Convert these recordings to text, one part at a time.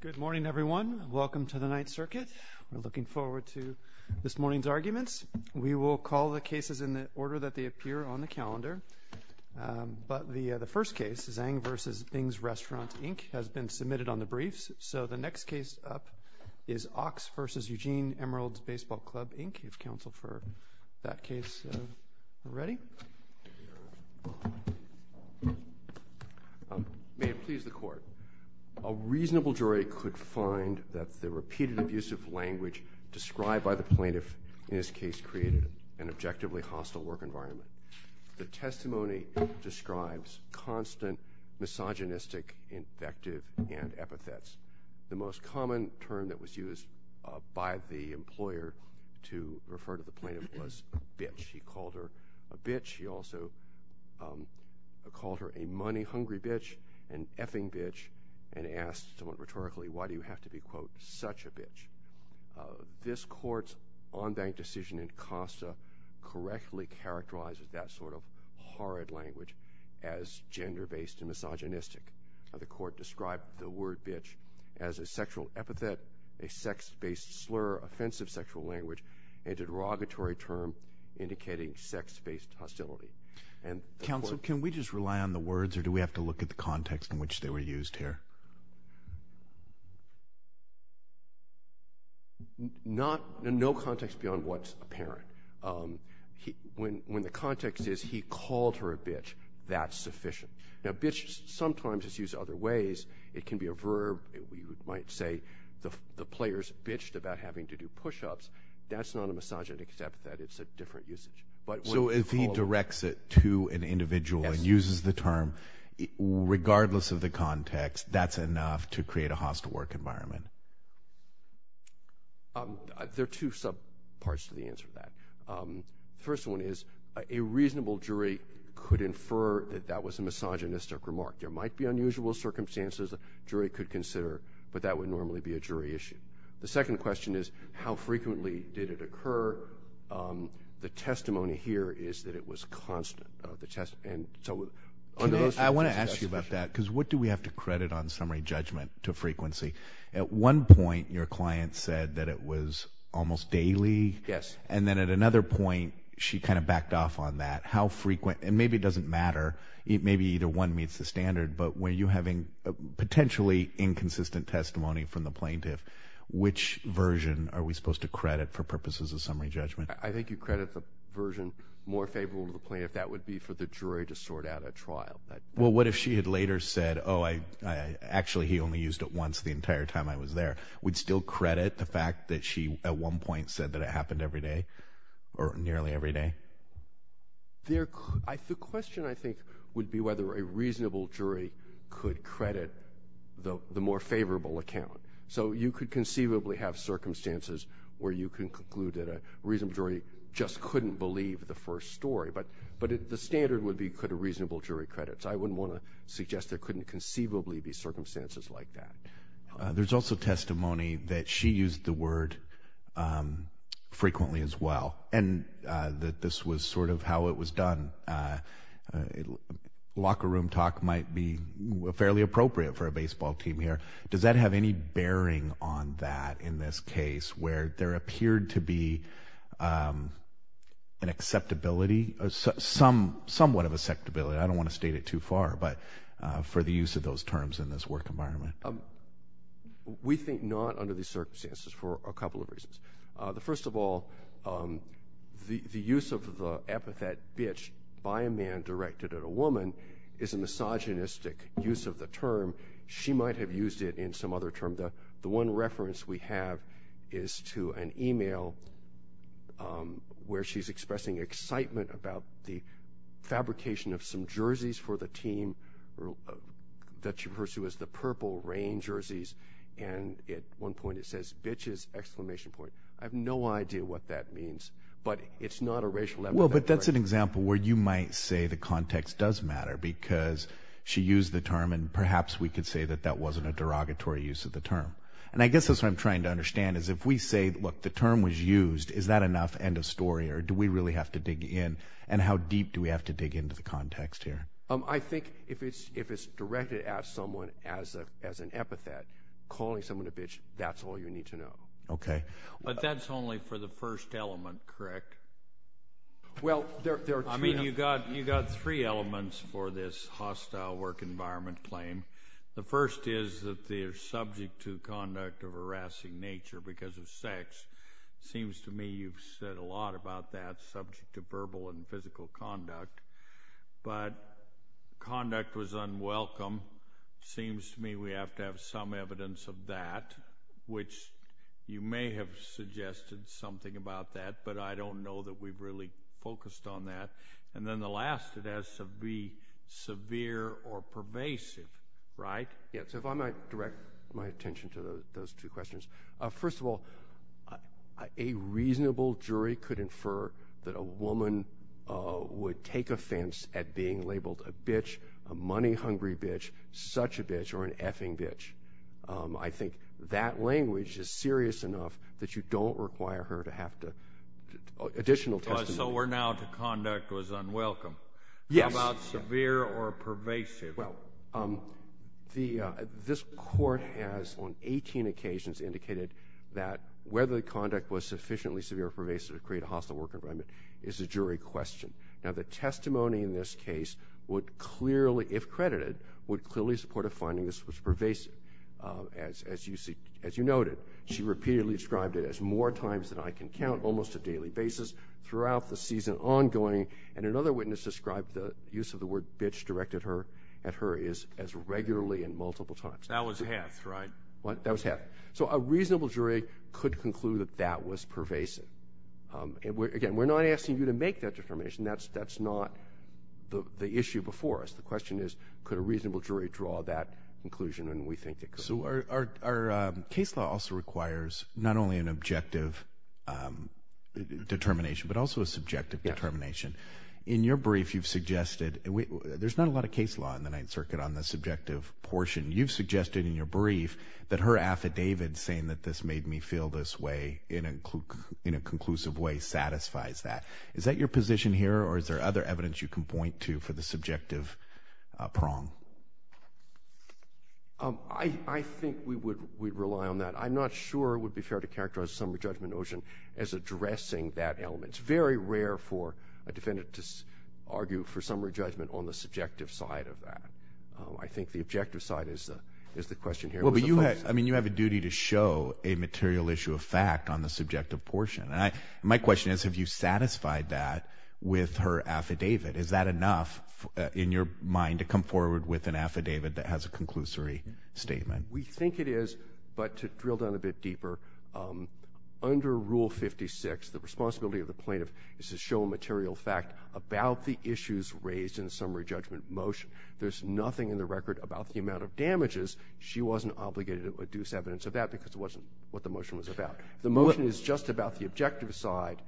Good morning, everyone. Welcome to the Ninth Circuit. We're looking forward to this morning's arguments. We will call the cases in the order that they appear on the calendar, but the first case, Zhang v. Bing's Restaurant, Inc., has been submitted on the briefs, so the next case up is Ochs v. Eugene Emeralds Baseball Club, Inc., if counsel for that case are ready. May it please the Court, a reasonable jury could find that the repeated abusive language described by the plaintiff in this case created an objectively hostile work environment. The testimony describes constant misogynistic, infective, and epithets. The most common term that was used by the employer to refer to the plaintiff was a bitch. He called her a bitch. He also called her a money-hungry bitch, an effing bitch, and asked someone rhetorically, why do you have to be, quote, such a bitch? This Court's on-bank decision in Costa correctly characterizes that sort of horrid language as gender-based and misogynistic. The Court described the sexual epithet a sex-based slur, offensive sexual language, and a derogatory term indicating sex-based hostility. Counsel, can we just rely on the words, or do we have to look at the context in which they were used here? No context beyond what's apparent. When the context is, he called her a bitch, that's sufficient. Now, bitch sometimes is used other ways. It can be a the players bitched about having to do push-ups. That's not a misogynist, except that it's a different usage. So if he directs it to an individual and uses the term, regardless of the context, that's enough to create a hostile work environment? There are two sub parts to the answer to that. The first one is, a reasonable jury could infer that that was a misogynistic remark. There might be a jury issue. The second question is, how frequently did it occur? The testimony here is that it was constant. I want to ask you about that, because what do we have to credit on summary judgment to frequency? At one point, your client said that it was almost daily. Yes. And then at another point, she kind of backed off on that. How frequent, and maybe it doesn't matter, it may be either one meets the plaintiff, which version are we supposed to credit for purposes of summary judgment? I think you credit the version more favorable to the plaintiff. That would be for the jury to sort out a trial. Well, what if she had later said, oh, I actually, he only used it once the entire time I was there. Would still credit the fact that she, at one point, said that it happened every day, or nearly every day? The question, I think, would be whether a jury would credit a favorable account. So you could conceivably have circumstances where you can conclude that a reasonable jury just couldn't believe the first story. But the standard would be, could a reasonable jury credit. So I wouldn't want to suggest there couldn't conceivably be circumstances like that. There's also testimony that she used the word frequently as well, and that this was sort of how it was done. Locker room talk might be fairly appropriate for a baseball team here. Does that have any bearing on that, in this case, where there appeared to be an acceptability? Somewhat of acceptability. I don't want to state it too far, but for the use of those terms in this work environment. We think not under these circumstances for a couple of reasons. The first of all, the use of the epithet bitch by a man directed at a woman is a misogynistic use of the term. She might have used it in some other term. The one reference we have is to an email where she's expressing excitement about the fabrication of some jerseys for the team that she pursues, the purple rain jerseys. And at one point, it says, bitches! I have no idea what that means, but it's not a racial epithet. Well, but that's an example where you might say the context does matter because she used the term, and perhaps we could say that that wasn't a derogatory use of the term. And I guess that's what I'm trying to understand, is if we say, look, the term was used, is that enough end of story, or do we really have to dig in? And how deep do we have to dig into the context here? I think if it's directed at someone as an epithet, calling someone a bitch, that's all you need to know. Okay. But that's only for the first element, correct? Well, there are three... You got three elements for this hostile work environment claim. The first is that they're subject to conduct of harassing nature because of sex. Seems to me you've said a lot about that subject to verbal and physical conduct, but conduct was unwelcome. Seems to me we have to have some evidence of that, which you may have suggested something about that, but I don't know that we've really focused on that. And then the last, it has to be severe or pervasive, right? Yeah. So if I might direct my attention to those two questions. First of all, a reasonable jury could infer that a woman would take offense at being labeled a bitch, a money hungry bitch, such a bitch, or an effing bitch. I think that language is serious enough that you don't require her to have additional testimony. So we're now to conduct was unwelcome. Yes. How about severe or pervasive? Well, this court has, on 18 occasions, indicated that whether the conduct was sufficiently severe or pervasive to create a hostile work environment is a jury question. Now, the testimony in this case would clearly, if credited, would clearly support a finding this was pervasive. As you noted, she repeatedly described it as more times than I can count, almost a daily basis, throughout the season ongoing. And another witness described the use of the word bitch directed at her as regularly and multiple times. That was half, right? That was half. So a reasonable jury could conclude that that was pervasive. And again, we're not asking you to make that defamation. That's not the issue before us. The question is, could a reasonable jury draw that conclusion? And we think it could. So our case law also requires not only an objective determination, but also a subjective determination. In your brief, you've suggested... There's not a lot of case law in the Ninth Circuit on the subjective portion. You've suggested in your brief that her affidavit saying that this made me feel this way in a conclusive way satisfies that. Is that your position here, or is there other evidence you can point to for the subjective prong? I think we'd rely on that. I'm not sure it would be fair to characterize the summary judgment notion as addressing that element. It's very rare for a defendant to argue for summary judgment on the subjective side of that. I think the objective side is the question here. Well, but you have a duty to show a material issue of fact on the subjective portion. And my question is, have you satisfied that with her affidavit? Is that enough in your mind to come forward with an affidavit that has a conclusory statement? We think it is, but to drill down a bit deeper, under Rule 56, the responsibility of the plaintiff is to show a material fact about the issues raised in the summary judgment motion. There's nothing in the record about the amount of damages. She wasn't obligated to adduce evidence of that because it wasn't what the motion was about. The motion is just about the objective side,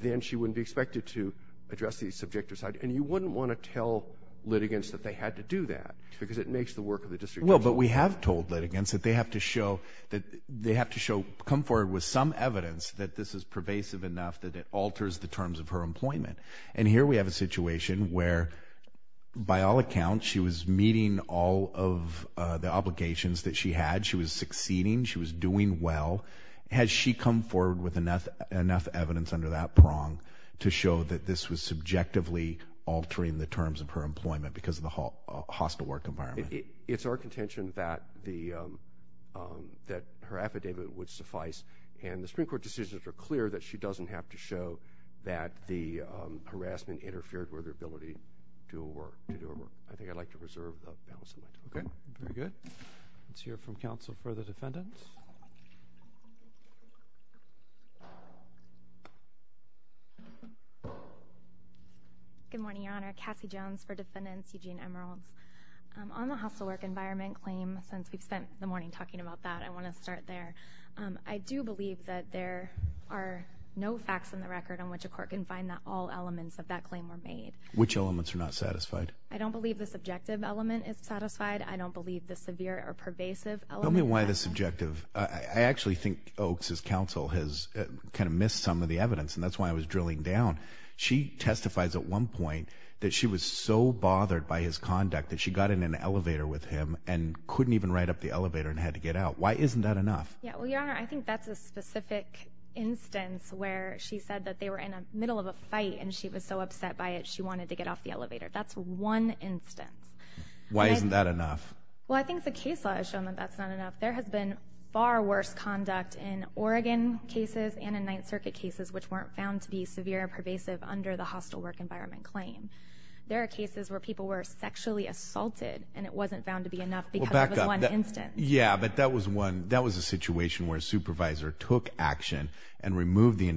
then she wouldn't be expected to address the subjective side. And you wouldn't want to tell litigants that they had to do that because it makes the work of the district... Well, but we have told litigants that they have to show that they have to show... Come forward with some evidence that this is pervasive enough that it alters the terms of her employment. And here we have a situation where, by all accounts, she was meeting all of the obligations that she had. She was succeeding, she was doing well. Has she come forward with enough evidence under that prong to show that this was subjectively altering the terms of her employment because of the hostile work environment? It's our contention that her affidavit would suffice. And the Supreme Court decisions are clear that she doesn't have to show that the harassment interfered with her ability to do her work. I think I'd like to reserve the balance of my time. Okay. Very good. Let's hear from counsel for the defendants. Good morning, Your Honor. Cassie Jones for defendants, Eugene Emeralds. On the hostile work environment claim, since we've spent the morning talking about that, I wanna start there. I do believe that there are no facts in the record on which a court can find that all elements of that claim were made. Which elements are not satisfied? I don't believe the subjective element is satisfied. I don't believe the severe or pervasive element. Tell me why the subjective... I actually think Oaks' counsel has missed some of the evidence, and that's why I was drilling down. She testifies at one point that she was so bothered by his conduct that she got in an elevator with him and couldn't even ride up the elevator and had to get out. Why isn't that enough? Yeah, well, Your Honor, I think that's a specific instance where she said that they were in the middle of a fight and she was so upset by it, she wanted to get off the elevator. That's one instance. Why isn't that enough? Well, I think the case law has shown that that's not enough. There has been far worse conduct in Oregon cases and in Ninth Circuit cases, which weren't found to be severe or pervasive under the hostile work environment claim. There are cases where people were sexually assaulted and it wasn't found to be enough because it was one instance. Yeah, but that was one... That was a situation where a supervisor took action and removed the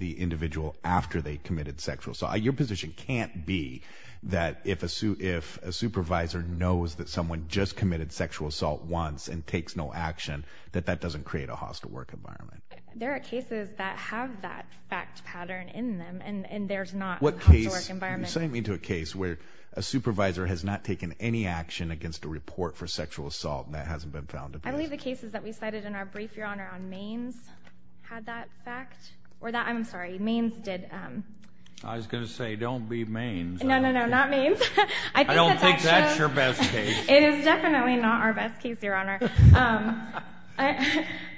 individual after they committed sexual assault. Your position can't be that if a supervisor knows that someone just committed sexual assault once and takes no action, that that doesn't create a hostile work environment. There are cases that have that fact pattern in them, and there's not a hostile work environment... What case... You're sending me to a case where a supervisor has not taken any action against a report for sexual assault and that hasn't been found to be... I believe the Maine's had that fact, or that... I'm sorry, Maine's did... I was gonna say don't be Maine's. No, no, no, not Maine's. I don't think that's your best case. It is definitely not our best case, Your Honor.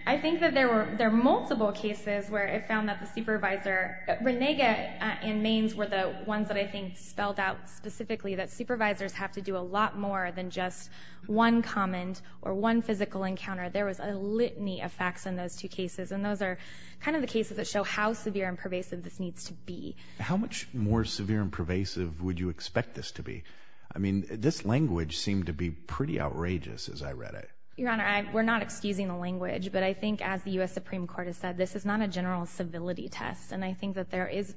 I think that there were... There are multiple cases where it found that the supervisor... Renega and Maine's were the ones that I think spelled out specifically that supervisors have to do a lot more than just one comment or one physical encounter. There was a litany of facts in those two cases, and those are kind of the cases that show how severe and pervasive this needs to be. How much more severe and pervasive would you expect this to be? I mean, this language seemed to be pretty outrageous as I read it. Your Honor, we're not excusing the language, but I think, as the US Supreme Court has said, this is not a general civility test, and I think that there is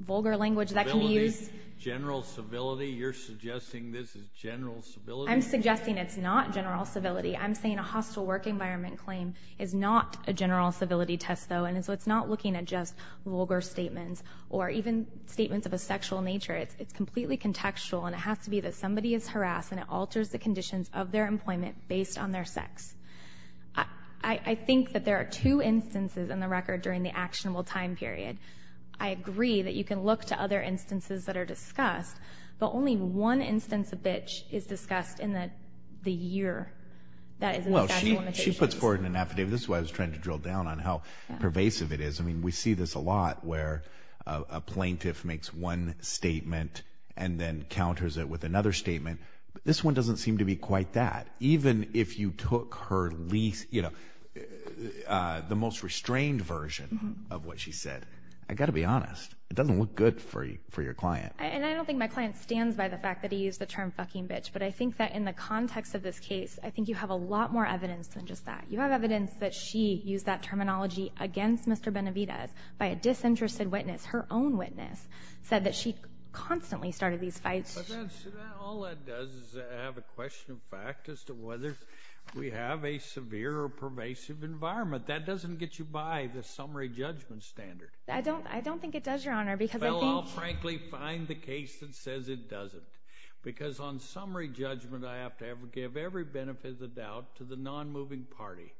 vulgar language that can be used... Civility? General civility? You're suggesting this is general civility? I'm suggesting it's not general civility. I'm saying a hostile work environment claim is not a general civility test, though, and so it's not looking at just vulgar statements or even statements of a sexual nature. It's completely contextual, and it has to be that somebody is harassed and it alters the conditions of their employment based on their sex. I think that there are two instances in the record during the actionable time period. I agree that you can look to other instances that are discussed in the year that is in the statute of limitations. Well, she puts forward in an affidavit, this is why I was trying to drill down on how pervasive it is. We see this a lot where a plaintiff makes one statement and then counters it with another statement. This one doesn't seem to be quite that. Even if you took her least... The most restrained version of what she said. I gotta be honest, it doesn't look good for your client. And I don't think my client stands by the fact that he used the term fucking bitch, but I think that in the context of this case, I think you have a lot more evidence than just that. You have evidence that she used that terminology against Mr. Benavidez by a disinterested witness, her own witness, said that she constantly started these fights. But that's... All that does is have a question of fact as to whether we have a severe or pervasive environment. That doesn't get you by the summary judgment standard. I don't think it does, Your Honor, because I frankly find the case that says it doesn't. Because on summary judgment, I have to give every benefit of the doubt to the non moving party.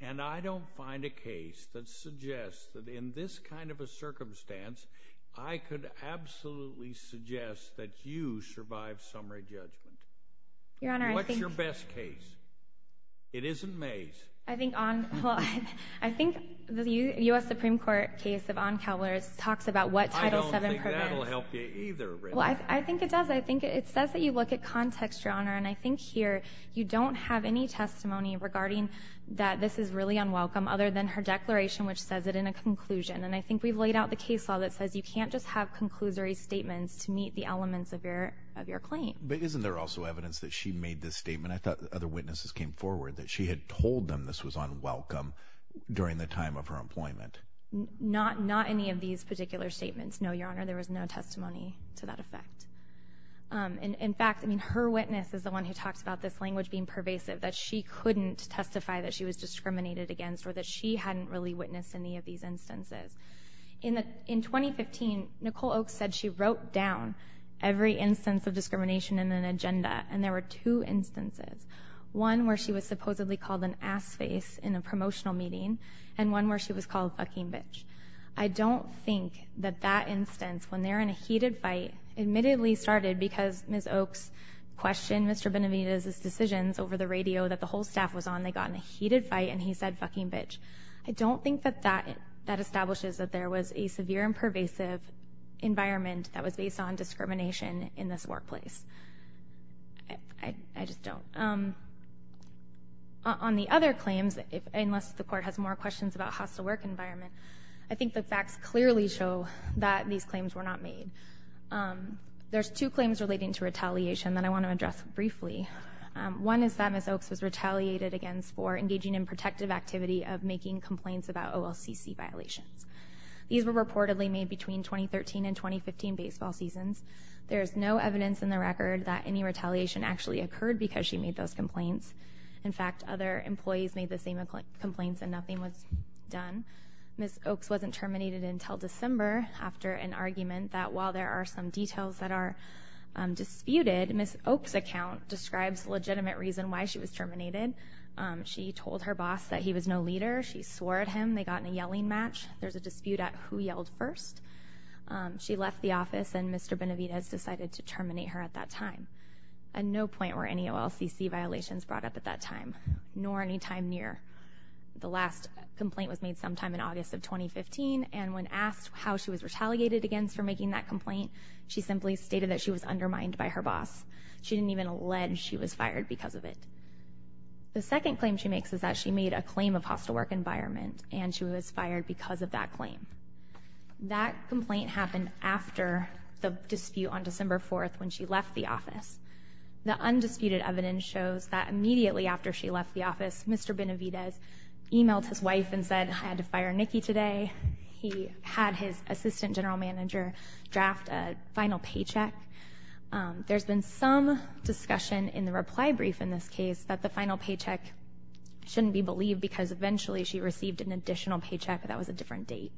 And I don't find a case that suggests that in this kind of a circumstance, I could absolutely suggest that you survive summary judgment. Your Honor, I think... What's your best case? It isn't Mays. I think on... Well, I think the US Supreme Court case of Oncowler talks about what Title VII prevents. I don't think that'll help you either, Rita. Well, I think it does. I think it says that you look at context, Your Honor, and I think here you don't have any testimony regarding that this is really unwelcome other than her declaration which says it in a conclusion. And I think we've laid out the case law that says you can't just have conclusory statements to meet the elements of your claim. But isn't there also evidence that she made this statement? I thought other witnesses came forward that she had told them this was unwelcome during the time of her employment. Not any of these particular statements. No, Your Honor, there was no testimony to that effect. In fact, her witness is the one who talks about this language being pervasive, that she couldn't testify that she was discriminated against or that she hadn't really witnessed any of these instances. In 2015, Nicole Oakes said she wrote down every instance of discrimination in an agenda, and there were two instances. One where she was supposedly called an ass face in a promotional meeting, and one where she was called a fucking bitch. I don't think that that instance, when they're in a heated fight, admittedly started because Ms. Oakes questioned Mr. Benavidez's decisions over the radio that the whole staff was on. They got in a heated fight, and he said, fucking bitch. I don't think that that establishes that there was a severe and pervasive environment that was based on discrimination in this workplace. I just don't. On the other claims, unless the court has more questions about hostile work environment, I think the facts clearly show that these claims were not made. There's two claims relating to retaliation that I want to address briefly. One is that Ms. Oakes was retaliated against for engaging in protective activity of making complaints about OLCC violations. These were reportedly made between 2013 and 2015 baseball seasons. There's no evidence in the record that any retaliation actually occurred because she made those complaints. In fact, other employees made the same complaints and nothing was done. Ms. Oakes wasn't terminated until December after an argument that, while there are some details that are disputed, Ms. Oakes' account describes legitimate reason why she was terminated. She told her boss that he was no leader. She swore at him. They got in a yelling match. There's a dispute at who yelled first. She left the office, and Mr. Benavidez decided to terminate her at that time. At no point were any OLCC violations brought up at that time, nor any time near. The last complaint was made sometime in August of 2015, and when asked how she was retaliated against for making that complaint, she simply stated that she was undermined by her boss. She didn't even allege she was fired because of it. The second claim she makes is that she made a claim of hostile work environment, and she was fired because of that claim. That complaint happened after the dispute on December 4th, when she left the office. The undisputed evidence shows that Mr. Benavidez emailed his wife and said, I had to fire Nikki today. He had his assistant general manager draft a final paycheck. There's been some discussion in the reply brief in this case that the final paycheck shouldn't be believed because eventually she received an additional paycheck that was a different date.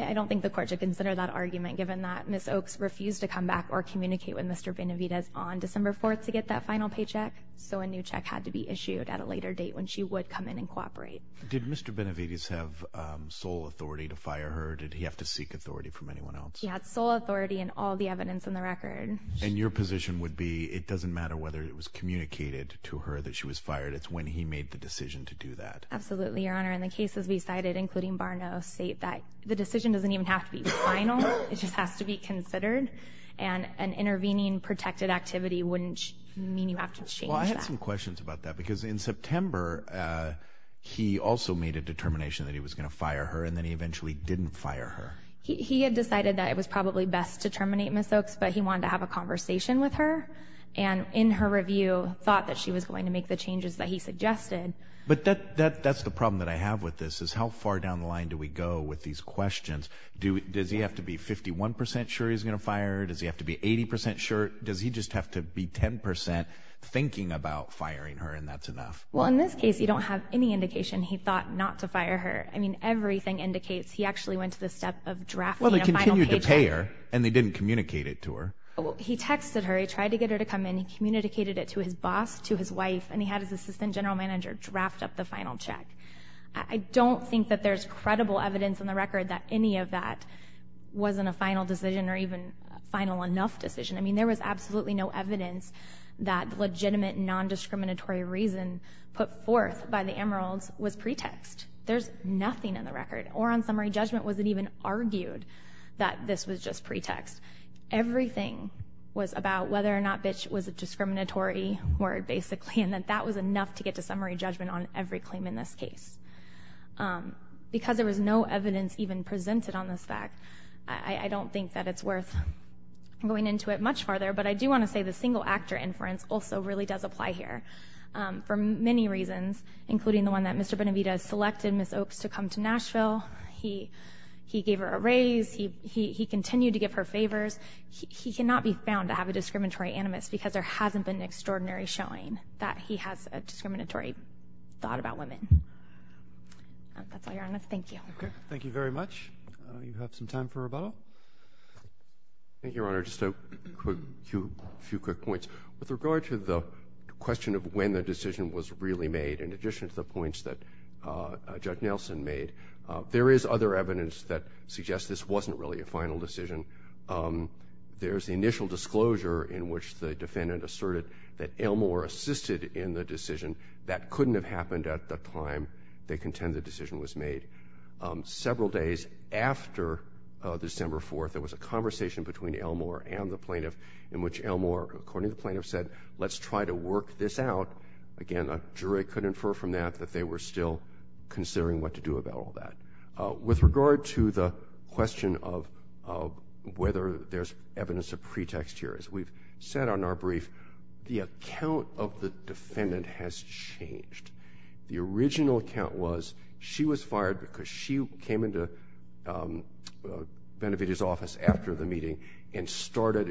I don't think the court should consider that argument given that Ms. Oakes refused to come back or communicate with Mr. Benavidez about that final paycheck, so a new check had to be issued at a later date when she would come in and cooperate. Did Mr. Benavidez have sole authority to fire her, or did he have to seek authority from anyone else? He had sole authority in all the evidence in the record. And your position would be, it doesn't matter whether it was communicated to her that she was fired, it's when he made the decision to do that. Absolutely, your honor. And the cases we cited, including Barno, state that the decision doesn't even have to be final, it just has to be considered. And an intervening protected activity wouldn't mean you have to change that. Well, I had some questions about that, because in September, he also made a determination that he was going to fire her, and then he eventually didn't fire her. He had decided that it was probably best to terminate Ms. Oakes, but he wanted to have a conversation with her, and in her review, thought that she was going to make the changes that he suggested. But that's the problem that I have with this, is how far down the line do we go with these questions? Does he have to be 51% sure he's going to fire her? Does he have to be 80% sure? Does he just have to be 10% thinking about firing her, and that's enough? Well, in this case, you don't have any indication he thought not to fire her. I mean, everything indicates he actually went to the step of drafting a final paycheck. Well, they continued to pay her, and they didn't communicate it to her. He texted her, he tried to get her to come in, he communicated it to his boss, to his wife, and he had his assistant general manager draft up the final check. I don't think that there's credible evidence in the record that any of that wasn't a final decision, or even a final enough decision. I mean, there was absolutely no evidence that legitimate, non-discriminatory reason put forth by the Emeralds was pretext. There's nothing in the record, or on summary judgment, was it even argued that this was just pretext. Everything was about whether or not bitch was a discriminatory word, basically, and that that was enough to get to summary judgment on every claim in this case. Because there was no evidence even presented on this fact, I don't think that it's worth going into it much farther, but I do want to say the single actor inference also really does apply here, for many reasons, including the one that Mr. Benavidez selected Ms. Oaks to come to Nashville. He gave her a raise, he continued to give her favors. He cannot be found to have a discriminatory animus because there hasn't been extraordinary showing that he has a discriminatory thought about women. That's all, Your Honor. Thank you. Okay. Thank you very much. You have some time for rebuttal. Thank you, Your Honor. Just a few quick points. With regard to the question of when the decision was really made, in addition to the points that Judge Nelson made, there is other evidence that suggests this wasn't really a final decision. There's the initial disclosure in which the defendant asserted that Elmore assisted in the decision. That couldn't have happened at the time they contend the decision was made. Several days after December 4th, there was a conversation between Elmore and the plaintiff in which Elmore, according to the plaintiff, said, let's try to work this out. Again, a jury could infer from that that they were still considering what to do about all that. With regard to the question of whether there's evidence of pretext here, as we've said on our brief, the account of the defendant has changed. The original account was she was fired because she came into Benavidez's office after the meeting and started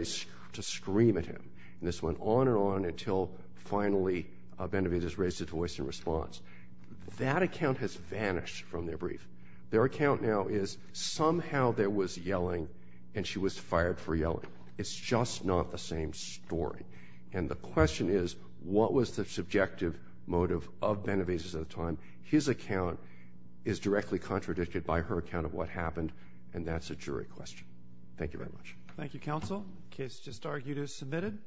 to scream at him. This went on and on until finally Benavidez raised his voice in response. That account has vanished from their brief. Their account now is somehow there was yelling and she was fired for yelling. It's just not the same story. And the question is, what was the subjective motive of Benavidez at the time? His account is directly contradicted by her account of what happened. And that's a jury question. Thank you very much. Thank you, counsel. The case just argued is submitted.